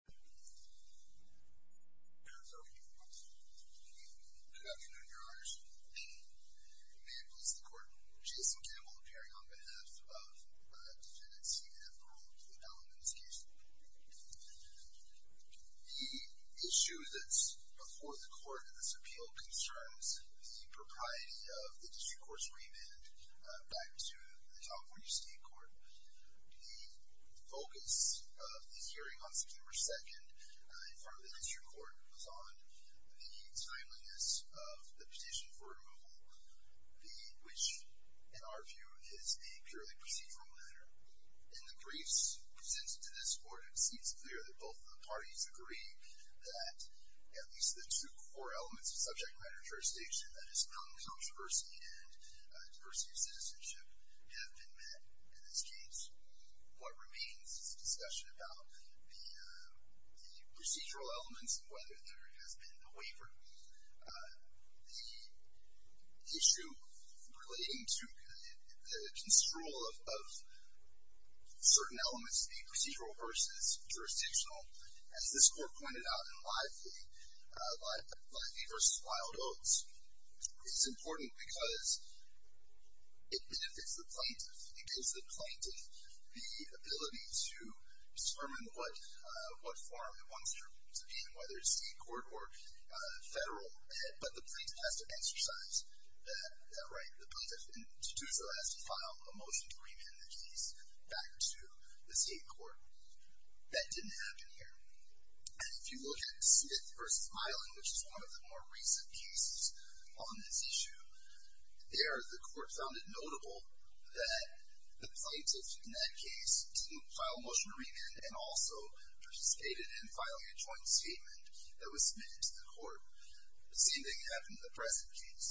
The issue that's before the court in this appeal concerns the propriety of the District Court's remand back to the California State Court. The focus of the hearing on September 2nd in front of the District Court was on the timeliness of the petition for removal, which in our view is a purely procedural matter. In the briefs presented to this court, it seems clear that both parties agree that at least the two core elements of subject matter jurisdiction, that is, non-controversy and diversity of citizenship, have been met in this case. What remains is a discussion about the procedural elements and whether there has been a waiver. The issue relating to the construal of certain elements being procedural versus jurisdictional, as this court pointed out in Lively v. Wild Oats, is important because it benefits the plaintiff. It gives the plaintiff the ability to determine what form it wants to be in, whether it's state court or federal. But the plaintiff has to exercise that right. The plaintiff has to file a motion to remand the case back to the state court. That didn't happen here. And if you look at Smith v. Eileen, which is one of the more recent cases on this issue, there the court found it notable that the plaintiff in that case didn't file a motion to remand and also participated in filing a joint statement that was submitted to the court. The same thing happened in the present case.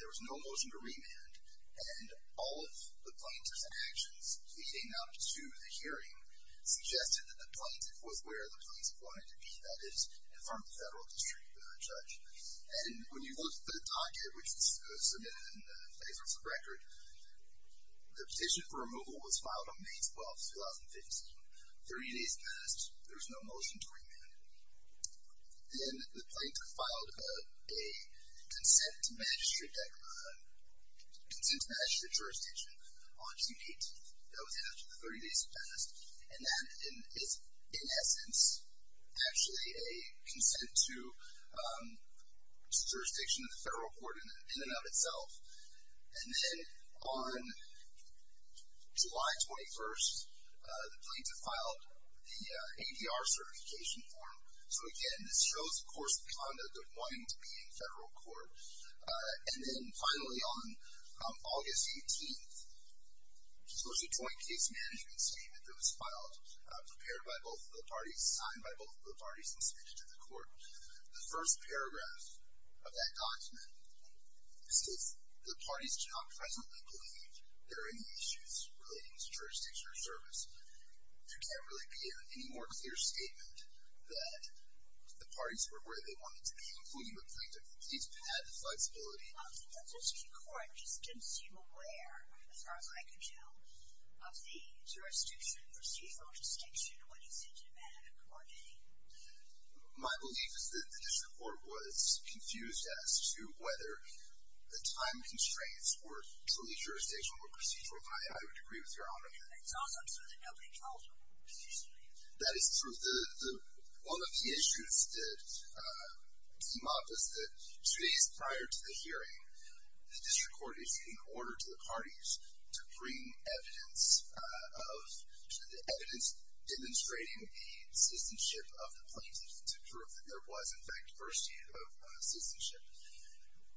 There was no motion to remand and all of the plaintiff's actions leading up to the case suggested that the plaintiff was where the plaintiff wanted to be. That is, in front of the federal district judge. And when you look at the docket, which was submitted in favor of the record, the petition for removal was filed on May 12th, 2015. Thirty days passed. There was no motion to remand. Then the plaintiff filed a consent to manage the jurisdiction on June 18th. That was after the 30 days had passed. And that is, in essence, actually a consent to jurisdiction of the federal court in and of itself. And then on July 21st, the plaintiff filed the ADR certification form. So, again, this shows, of course, the conduct of wanting to be in federal court. And then, finally, on August 18th, there was a joint case management statement that was filed, prepared by both of the parties, signed by both of the parties, and submitted to the court. The first paragraph of that document says, the parties do not presently believe there are any issues relating to jurisdiction or service. There can't really be any more clear statement that the parties were where they wanted to be. So, in conclusion, the plaintiff needs to have the flexibility. The district court just didn't seem aware, as far as I could tell, of the jurisdiction procedural distinction when it's in demand of a court date. My belief is that the district court was confused as to whether the time constraints were solely jurisdictional or procedural. And I would agree with your argument. And it's also true that nobody told you it was procedural. That is true. One of the issues that came up is that two days prior to the hearing, the district court is in order to the parties to bring evidence of the evidence demonstrating the citizenship of the plaintiff to prove that there was, in fact, first-hand of citizenship,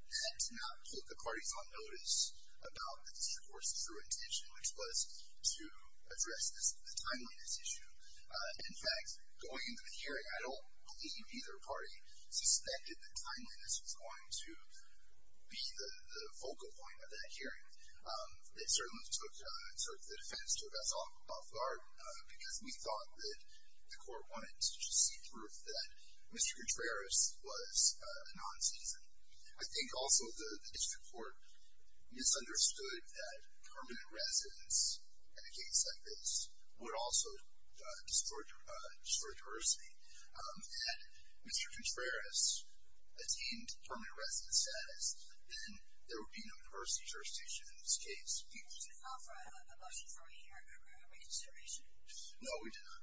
and to not put the parties on notice about the district court's true intention, which was to address the timeliness issue. In fact, going into the hearing, I don't believe either party suspected that timeliness was going to be the focal point of that hearing. It certainly took, sort of, the defense took us off guard, because we thought that the court wanted to just see proof that Mr. Gutierrez was a non-citizen. I think, also, the district court misunderstood that permanent residence in a case like this would also distort jurisdiction. Had Mr. Gutierrez attained permanent residence status, then there would be no jurisdiction in this case. Did you offer a motion for a reconsideration? No, we did not.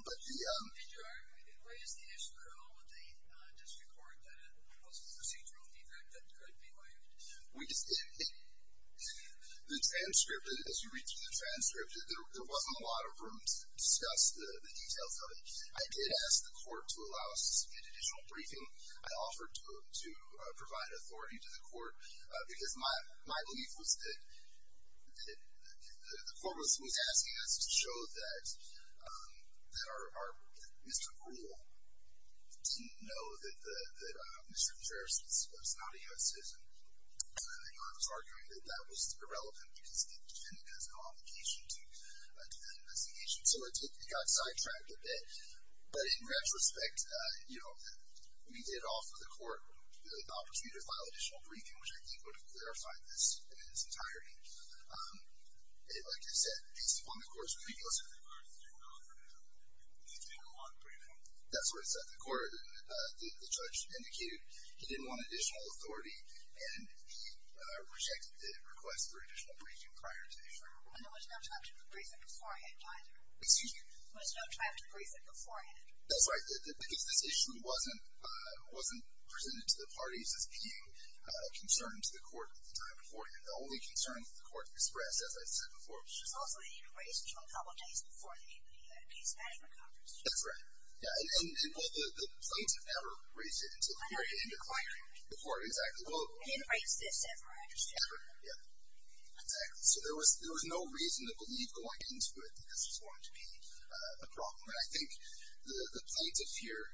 But the, um... Did you argue? Why does the issue occur only with the district court? Was it a procedural defect that could be argued? We just, it, it, the transcript, as you read through the transcript, there wasn't a lot of room to discuss the details of it. I did ask the court to allow us an additional briefing. I offered to provide authority to the court, because my belief was that the court was asking us to show that, um, that our, our, Mr. Brewer didn't know that the, that Mr. Gutierrez was not a non-citizen. And I was arguing that that was irrelevant, because he defended his convocation to a defendant as a nation. So it did, it got sidetracked a bit. But in retrospect, you know, we did offer the court the opportunity to file an additional briefing, which I think would have clarified this in its entirety. Um, it, like I said, based upon the court's review... The court didn't offer to have an additional on-briefing? That's what it said. The court, uh, the, the judge indicated he didn't want additional authority, and he, uh, rejected the request for additional briefing prior to the issue. And there was no time to brief it beforehand, either? Excuse me? There was no time to brief it beforehand? That's right. The, the, because this issue wasn't, uh, wasn't presented to the parties as being, uh, a concern to the court at the time beforehand. The only concern that the court expressed, as I said before... Supposedly, he had raised it a couple of days before the AP, uh, case that he recovered. That's right. Yeah, and, and, and, well, the, the plaintiff never raised it until the hearing. He didn't declare it? Before, exactly. Well... He didn't raise this ever, I understand. Ever, yeah. Exactly. So there was, there was no reason to believe going into it that this was going to be, uh, a problem. And I think the, the plaintiff here,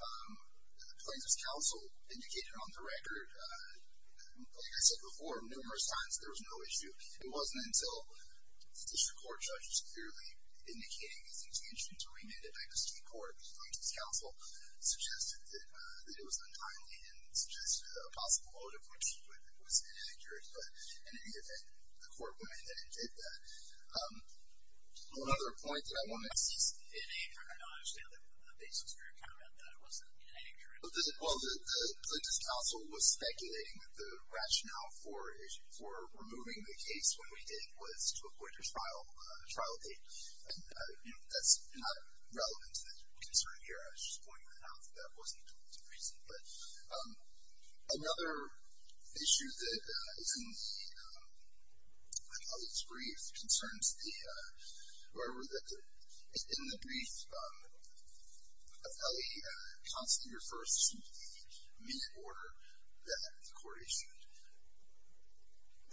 um, the Plaintiff's Counsel indicated on the record, uh, like I said before numerous times, there was no issue. It wasn't until the District Court judges clearly indicating his intention to remand it back to the Supreme Court. The Plaintiff's Counsel suggested that, uh, that it was untimely and suggested a possible motive which was, was inaccurate. But in any event, the court went ahead and did that. Um, another point that I wanted to... I see. In a, from your knowledge, the other basis for your comment that it wasn't inaccurate. Well, the, the Plaintiff's Counsel was speculating that the rationale for, for removing the case when we did was to avoid a trial, uh, trial date. And, uh, you know, that's not relevant to the concern here. I was just pointing that out that that wasn't the reason. But, um, another issue that, uh, is in the, um, I believe it's brief, concerns the, uh, wherever that the, in the brief, um, appellee, uh, constantly refers to the minute order that the court issued.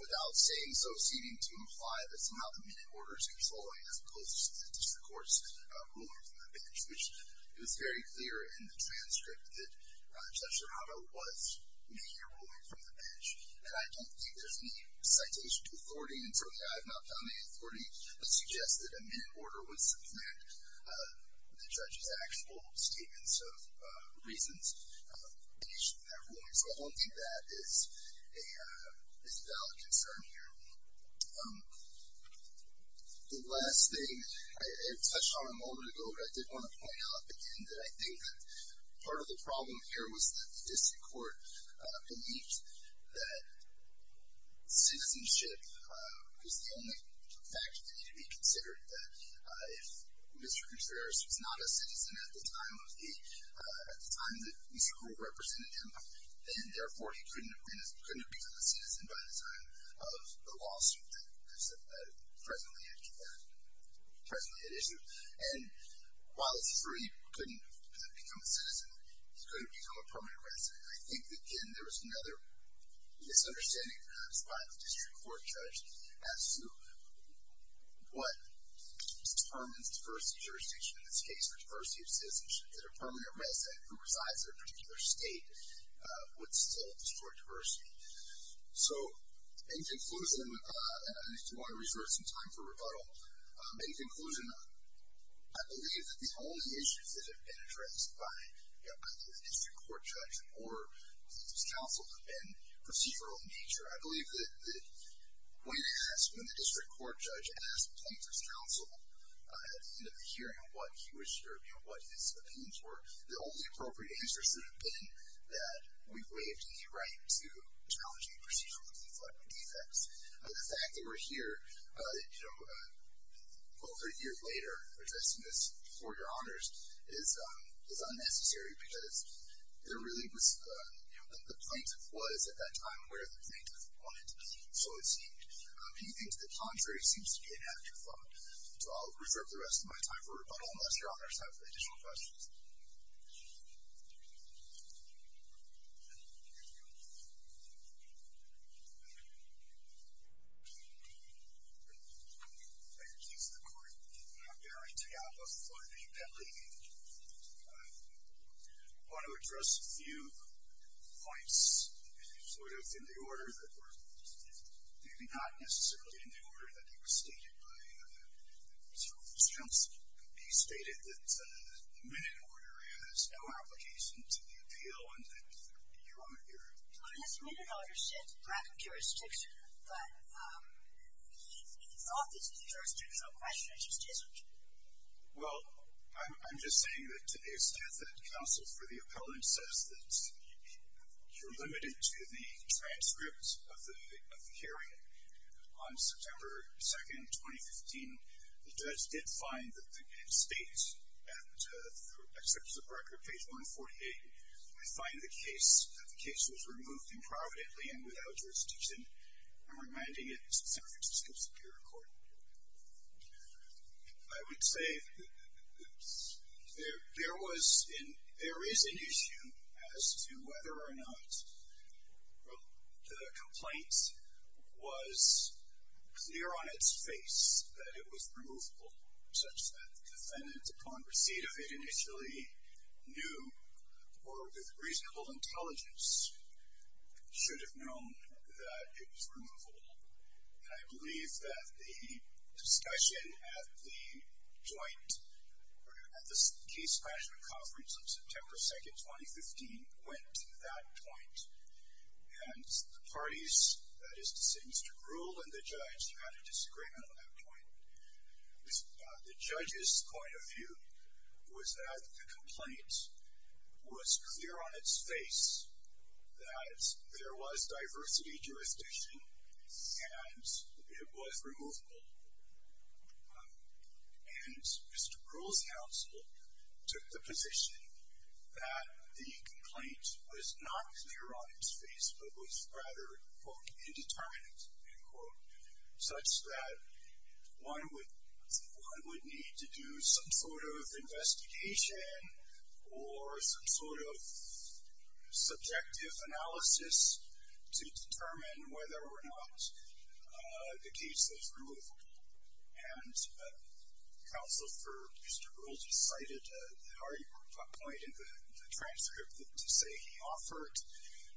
Without saying so, seeming to imply that somehow the minute order is controlling as opposed to the District Court's, uh, ruling from the bench, which it was very clear in the transcript that, uh, Judge Serrato was making a ruling from the bench. And I don't think there's any citation to authority. Certainly, I have not found any authority to suggest that a minute order was supplant, uh, with the judge's actual statements of, uh, reasons, uh, in the issue of that ruling. So, I don't think that is a, uh, is a valid concern here. Um, the last thing, I, I touched on a moment ago, but I did want to point out again that I think that part of the problem here was that the District Court, uh, believed that citizenship, uh, was the only factor that needed to be considered. That, uh, if Mr. Gutierrez was not a citizen at the time of the, uh, at the time that Mr. Gould represented him, then, therefore, he couldn't have been a, couldn't have become a citizen by the time of the lawsuit that, uh, presently had, uh, presently had issued. And while it's true he couldn't have become a citizen, he couldn't have become a permanent resident. And I think that, again, there was another misunderstanding, uh, by the District Court judge as to what permanent diversity jurisdiction in this case, or diversity of citizenship, that a permanent resident who resides in a particular state, uh, would still distort diversity. So, in conclusion, uh, and I do want to reserve some time for rebuttal. Um, in conclusion, I believe that the only issues that have been addressed by, you know, the District Court judge or plaintiff's counsel have been procedural in nature. I believe that, that when asked, when the District Court judge asked the plaintiff's counsel, uh, at the end of the hearing, what he wished, or, you know, what his opinions were, the only appropriate answer should have been that we waived the right to challenge any procedural deflection defects. Uh, the fact that we're here, uh, you know, uh, well, three years later, addressing this before your honors is, um, is unnecessary because there really was, uh, you know, the plaintiff was, at that time, aware of the plaintiff's point, so it seemed. Anything to the contrary seems to be an afterthought. So, I'll reserve the rest of my time for rebuttal unless your honors have additional questions. Thank you, Chief of the Court. I'm Gary Teapa for the Pet League. Uh, I want to address a few points, sort of in the order that were, maybe not necessarily in the order that they were stated by, uh, Mr. Rufus Johnson. It could be stated that, uh, the minute order has no application to the appeal, and that you are here. Well, in this minute order, it said lack of jurisdiction, but, um, in his office, the jurisdictional question just isn't. Well, I'm, I'm just saying that to the extent that counsel for the appellant says that you're limited to the transcripts of the, of the hearing, on September 2nd, 2015, the judge did find that the state, and, uh, except for the record, page 148, we find the case, that the case was removed improvidently and without jurisdiction. I'm reminding it's the San Francisco Superior Court. I would say there, there was an, there is an issue as to whether or not the complaint was clear on its face that it was removable, such that the defendant, upon receipt of it initially, knew, or with reasonable intelligence, should have known that it was removable. And I believe that the discussion at the joint, at the case management conference on September 2nd, 2015, went to that point. And the parties, that is to say Mr. Brewer and the judge, had a disagreement on that point. The judge's point of view was that the complaint was clear on its face that there was diversity jurisdiction and it was removable. And Mr. Brewer's counsel took the position that the complaint was not clear on its face, but was rather, quote, indeterminate, end quote, such that one would, one would need to do some sort of investigation or some sort of subjective analysis to determine whether or not the case was removable. And counsel for Mr. Brewer decided that our point in the transcript to say he offered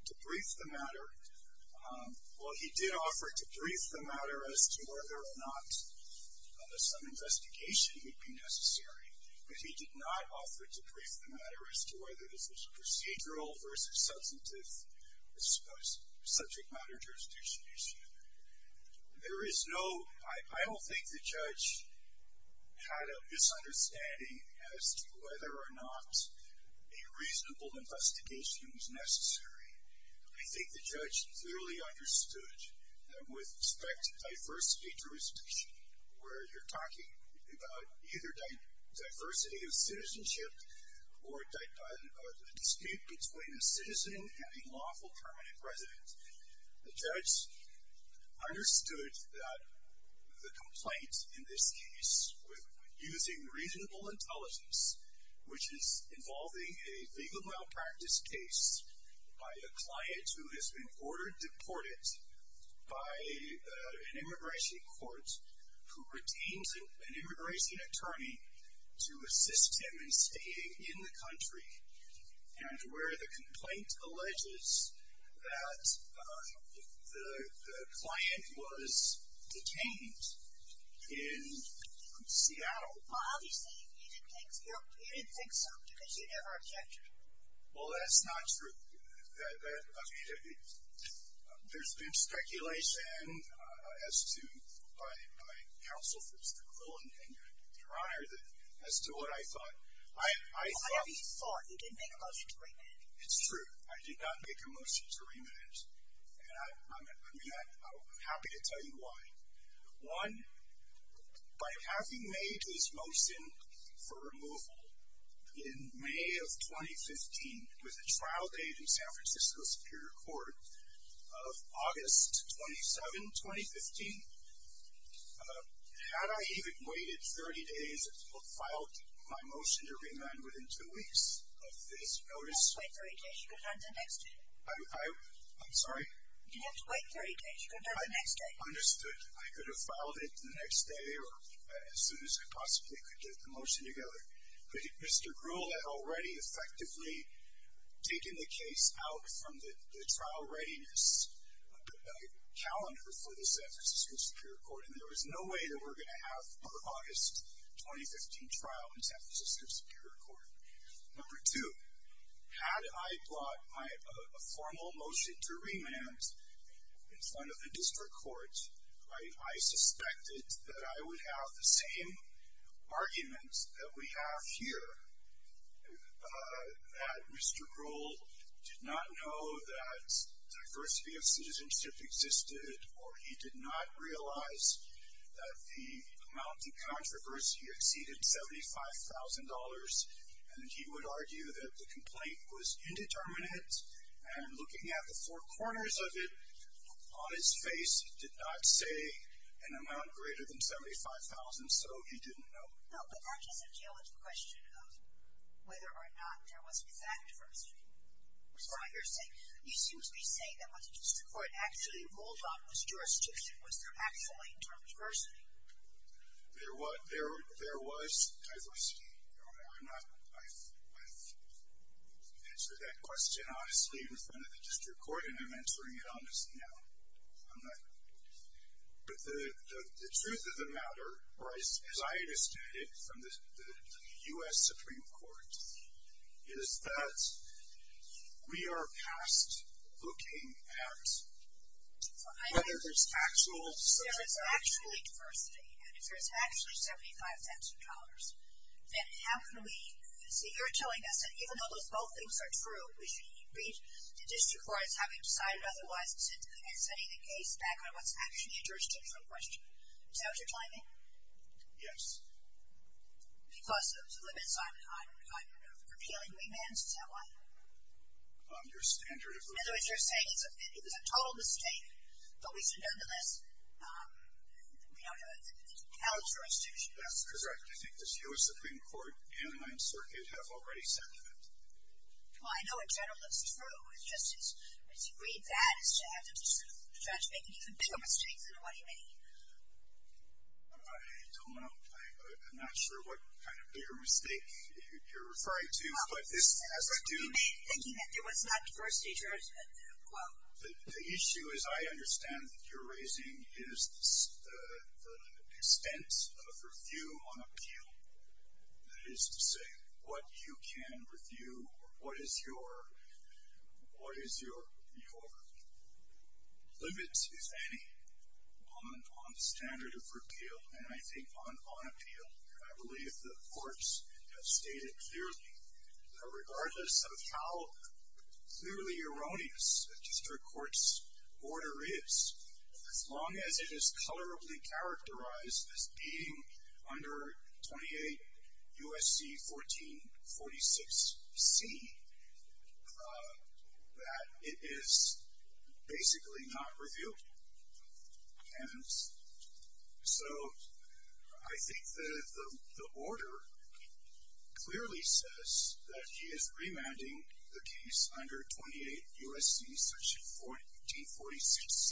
to brief the matter, well he did offer to brief the matter as to whether or not some investigation would be necessary. But he did not offer to brief the matter as to whether this was a procedural versus substantive subject matter jurisdiction issue. There is no, I don't think the judge had a misunderstanding as to whether or not a reasonable investigation was necessary. I think the judge clearly understood that with respect to diversity jurisdiction, where you're talking about either diversity of citizenship or a dispute between a citizen and a lawful permanent resident, the judge understood that the complaint in this case with using reasonable intelligence, which is involving a legal malpractice case by a client who has been ordered deported by an immigration court who retains an immigration attorney to assist him in staying in the country and where the complaint alleges that the client was detained in Seattle. Well obviously he didn't think so because you never objected. Well that's not true. There's been speculation as to, by my counsel for Mr. Cullen and your honor, as to what I thought. I thought. Why have you thought? You didn't make a motion to remit it. It's true. I did not make a motion to remit it. And I'm happy to tell you why. One, by having made this motion for removal in May of 2015, it was a trial date in San Francisco Superior Court of August 27, 2015. Had I even waited 30 days and filed my motion to remand within two weeks of this notice. You'd have to wait 30 days. You could have done it the next day. I'm sorry? You'd have to wait 30 days. You could have done it the next day. I understood. I could have filed it the next day or as soon as I possibly could get the motion together. But Mr. Gruel had already effectively taken the case out from the trial readiness calendar for the San Francisco Superior Court. And there was no way that we're going to have our August 2015 trial in San Francisco Superior Court. Number two, had I brought a formal motion to remand in front of the district court, I suspected that I would have the same arguments that we have here. That Mr. Gruel did not know that diversity of citizenship existed or he did not realize that the amount in controversy exceeded $75,000 and he would argue that the complaint was indeterminate. And looking at the four corners of it on his face, it did not say an amount greater than $75,000. So he didn't know. No, but that doesn't deal with the question of whether or not there was exact diversity. You seem to be saying that once the district court actually ruled on this jurisdiction, was there actually diversity? There was diversity. I've answered that question honestly in front of the district court, and I'm answering it honestly now. I'm not going to. But the truth of the matter, or as I understand it from the U.S. Supreme Court, is that we are past looking at whether there's actual citizenship. If there's actually diversity and if there's actually $75,000, then how can we see? You're telling us that even though those both things are true, we should read the district court as having decided otherwise and setting the case back on what's actually a jurisdictional question. Is that what you're telling me? Yes. Because of the limits on repealing remands? Is that why? Your standard of rule. In other words, you're saying it was a total mistake, but we should nonetheless have a jurisdiction. That's correct. I think the U.S. Supreme Court and my inserted have already said that. Well, I know in general it's true. It's just as you read that as to have the judge make an even bigger mistake than what he made. I don't know. I'm not sure what kind of bigger mistake you're referring to. But this has to do with the issue, as I understand, that you're raising is the expense of review on appeal. That is to say, what you can review or what is your limits, if any, on the standard of repeal and I think on appeal. I believe the courts have stated clearly that regardless of how clearly erroneous a district court's order is, as long as it is colorably characterized as being under 28 U.S.C. 1446C, that it is basically not reviewed. And so I think that the order clearly says that he is remanding the case under 28 U.S.C. section 1446C.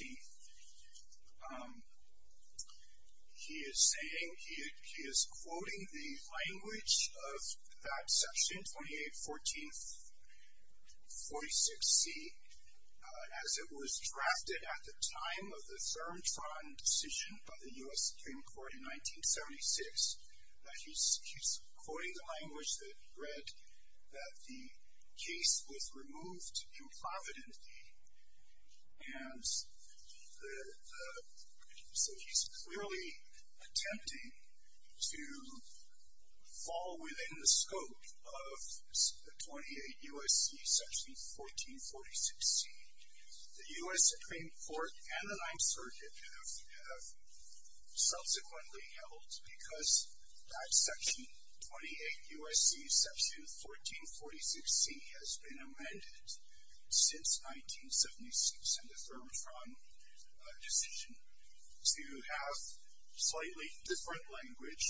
He is saying, he is quoting the language of that section, 28 U.S.C. 1446C, as it was drafted at the time of the Thurm-Tron decision by the U.S. Supreme Court in 1976. He's quoting the language that read that the case was removed in provident. And so he's clearly attempting to fall within the scope of 28 U.S.C. section 1446C. The U.S. Supreme Court and the Ninth Circuit have subsequently held that section 28 U.S.C. section 1446C has been amended since 1976 and the Thurm-Tron decision to have slightly different language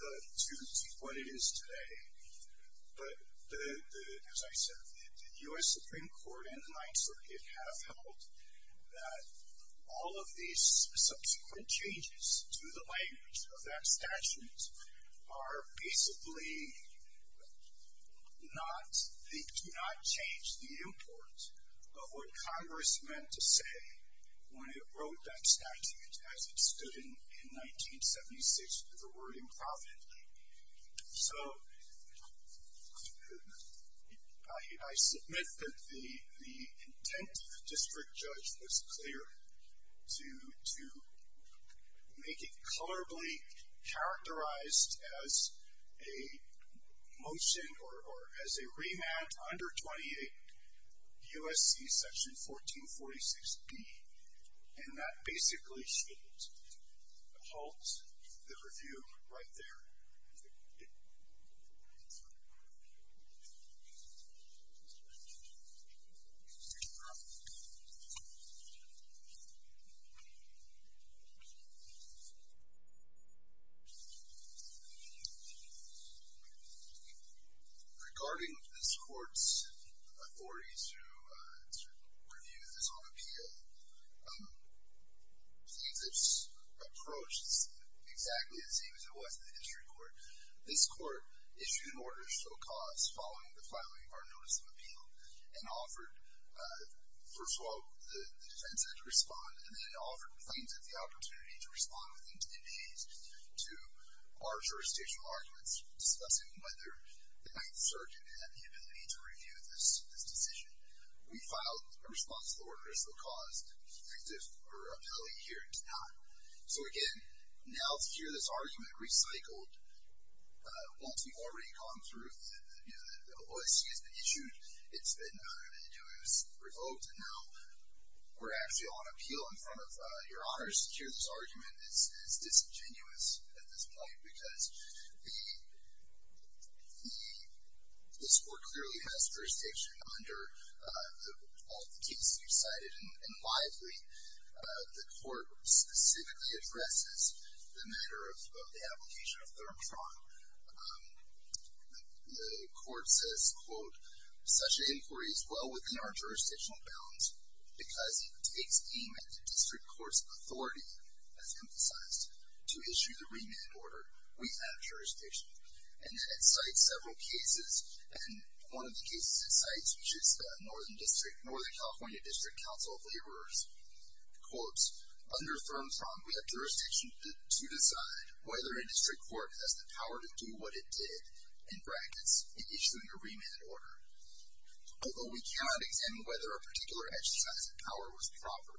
to what it is today. But as I said, the U.S. Supreme Court and the Ninth Circuit have held that all of these subsequent changes to the language of that statute are basically not, they do not change the import, but what Congress meant to say when it wrote that statute as it stood in 1976 with the word in provident. So I submit that the intent of the district judge was clear to make it colorably characterized as a motion or as a remand under 28 U.S.C. section 1446B. And that basically holds the review right there. Thank you. Regarding this court's authority to review this on appeal, I think this approach is exactly the same as it was in the history court. This court issued an order of full cause following the filing of our notice of appeal and offered, first of all, the defense had to respond and then it offered the plaintiff the opportunity to respond within 10 days to our jurisdictional arguments discussing whether the Ninth Circuit had the ability to review this decision. We filed a response to the order of full cause. The plaintiff or appellee here did not. So again, now to hear this argument recycled once we've already gone through, the OAC has been issued, it's been revoked, and now we're actually on appeal in front of your honors. To hear this argument is disingenuous at this point because this court clearly has jurisdiction under all of the cases you've cited, and widely the court specifically addresses the matter of the application of third imprisonment. The court says, quote, such an inquiry is well within our jurisdictional bounds because it takes aim at the district court's authority, as emphasized, to issue the remand order. We have jurisdiction. And then it cites several cases, and one of the cases it cites, which is the Northern California District Council of Laborers, quotes, under third imprisonment we have jurisdiction to decide whether a district court has the power to do what it did, in practice, in issuing a remand order. Although we cannot examine whether a particular exercise of power was proper.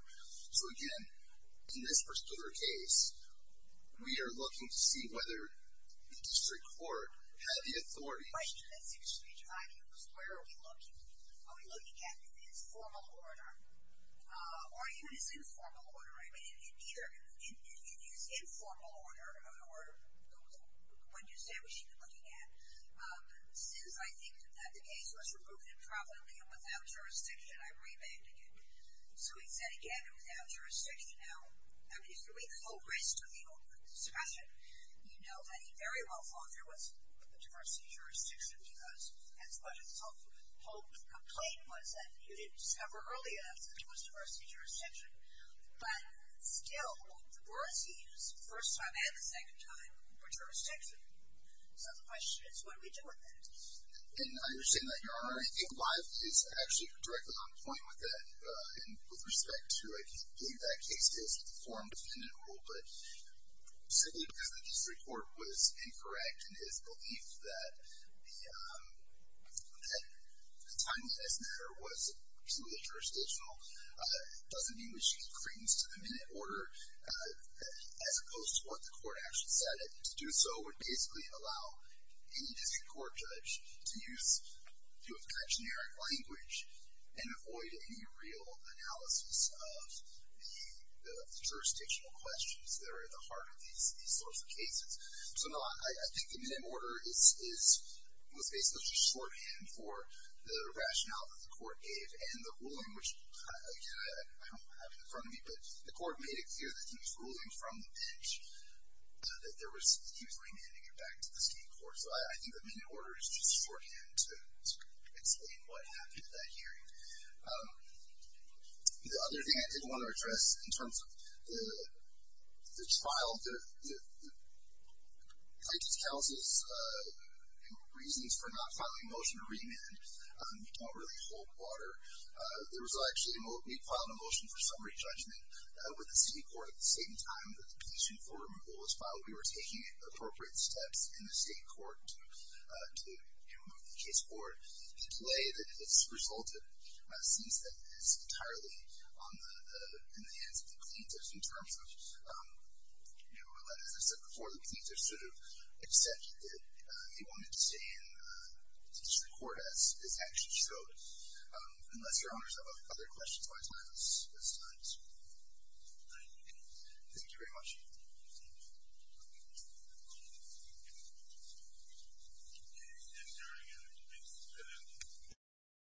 So again, in this particular case, we are looking to see whether the district court had the authority. The question that seems to be driving this, where are we looking? Are we looking at his formal order? Or even his informal order, right? Either his informal order, or the one you said we should be looking at. Since I think that the case was removed improperly and without jurisdiction, I'm remanding it. So he said, again, without jurisdiction. Now, if you read the whole rest of the discussion, you know that he very well thought there was a diversity of jurisdiction, because that's what his whole complaint was, that you didn't discover early enough that there was diversity of jurisdiction. But still, the words he used the first time and the second time were jurisdiction. So the question is, what do we do with that? And I understand that Your Honor, I think Lyle is actually directly on point with that. And with respect to, I can't believe that case is a form dependent rule, but simply because the district court was incorrect in his belief that the time that it's there was purely jurisdictional, doesn't mean we should give credence to the minute order, as opposed to what the court actually said. That to do so would basically allow any district court judge to use, to have a generic language and avoid any real analysis of the jurisdictional questions that are at the heart of these sorts of cases. So no, I think the minute order was basically just shorthand for the rationale that the court gave. And the ruling which, again, I don't have it in front of me, that he was remanding it back to the city court. So I think the minute order is just shorthand to explain what happened at that hearing. The other thing I did want to address in terms of the trial, the plaintiff's counsel's reasons for not filing a motion to remand. You don't really hold water. There was actually, we filed a motion for summary judgment with the city court at the same time that the police reform was filed. We were taking appropriate steps in the state court to remove the case board. The delay that has resulted seems that it's entirely in the hands of the plaintiffs in terms of, as I said before, the plaintiffs sort of accepted that they wanted to stay in the district court as an action. So unless your honors have other questions, my time is up. Thank you very much.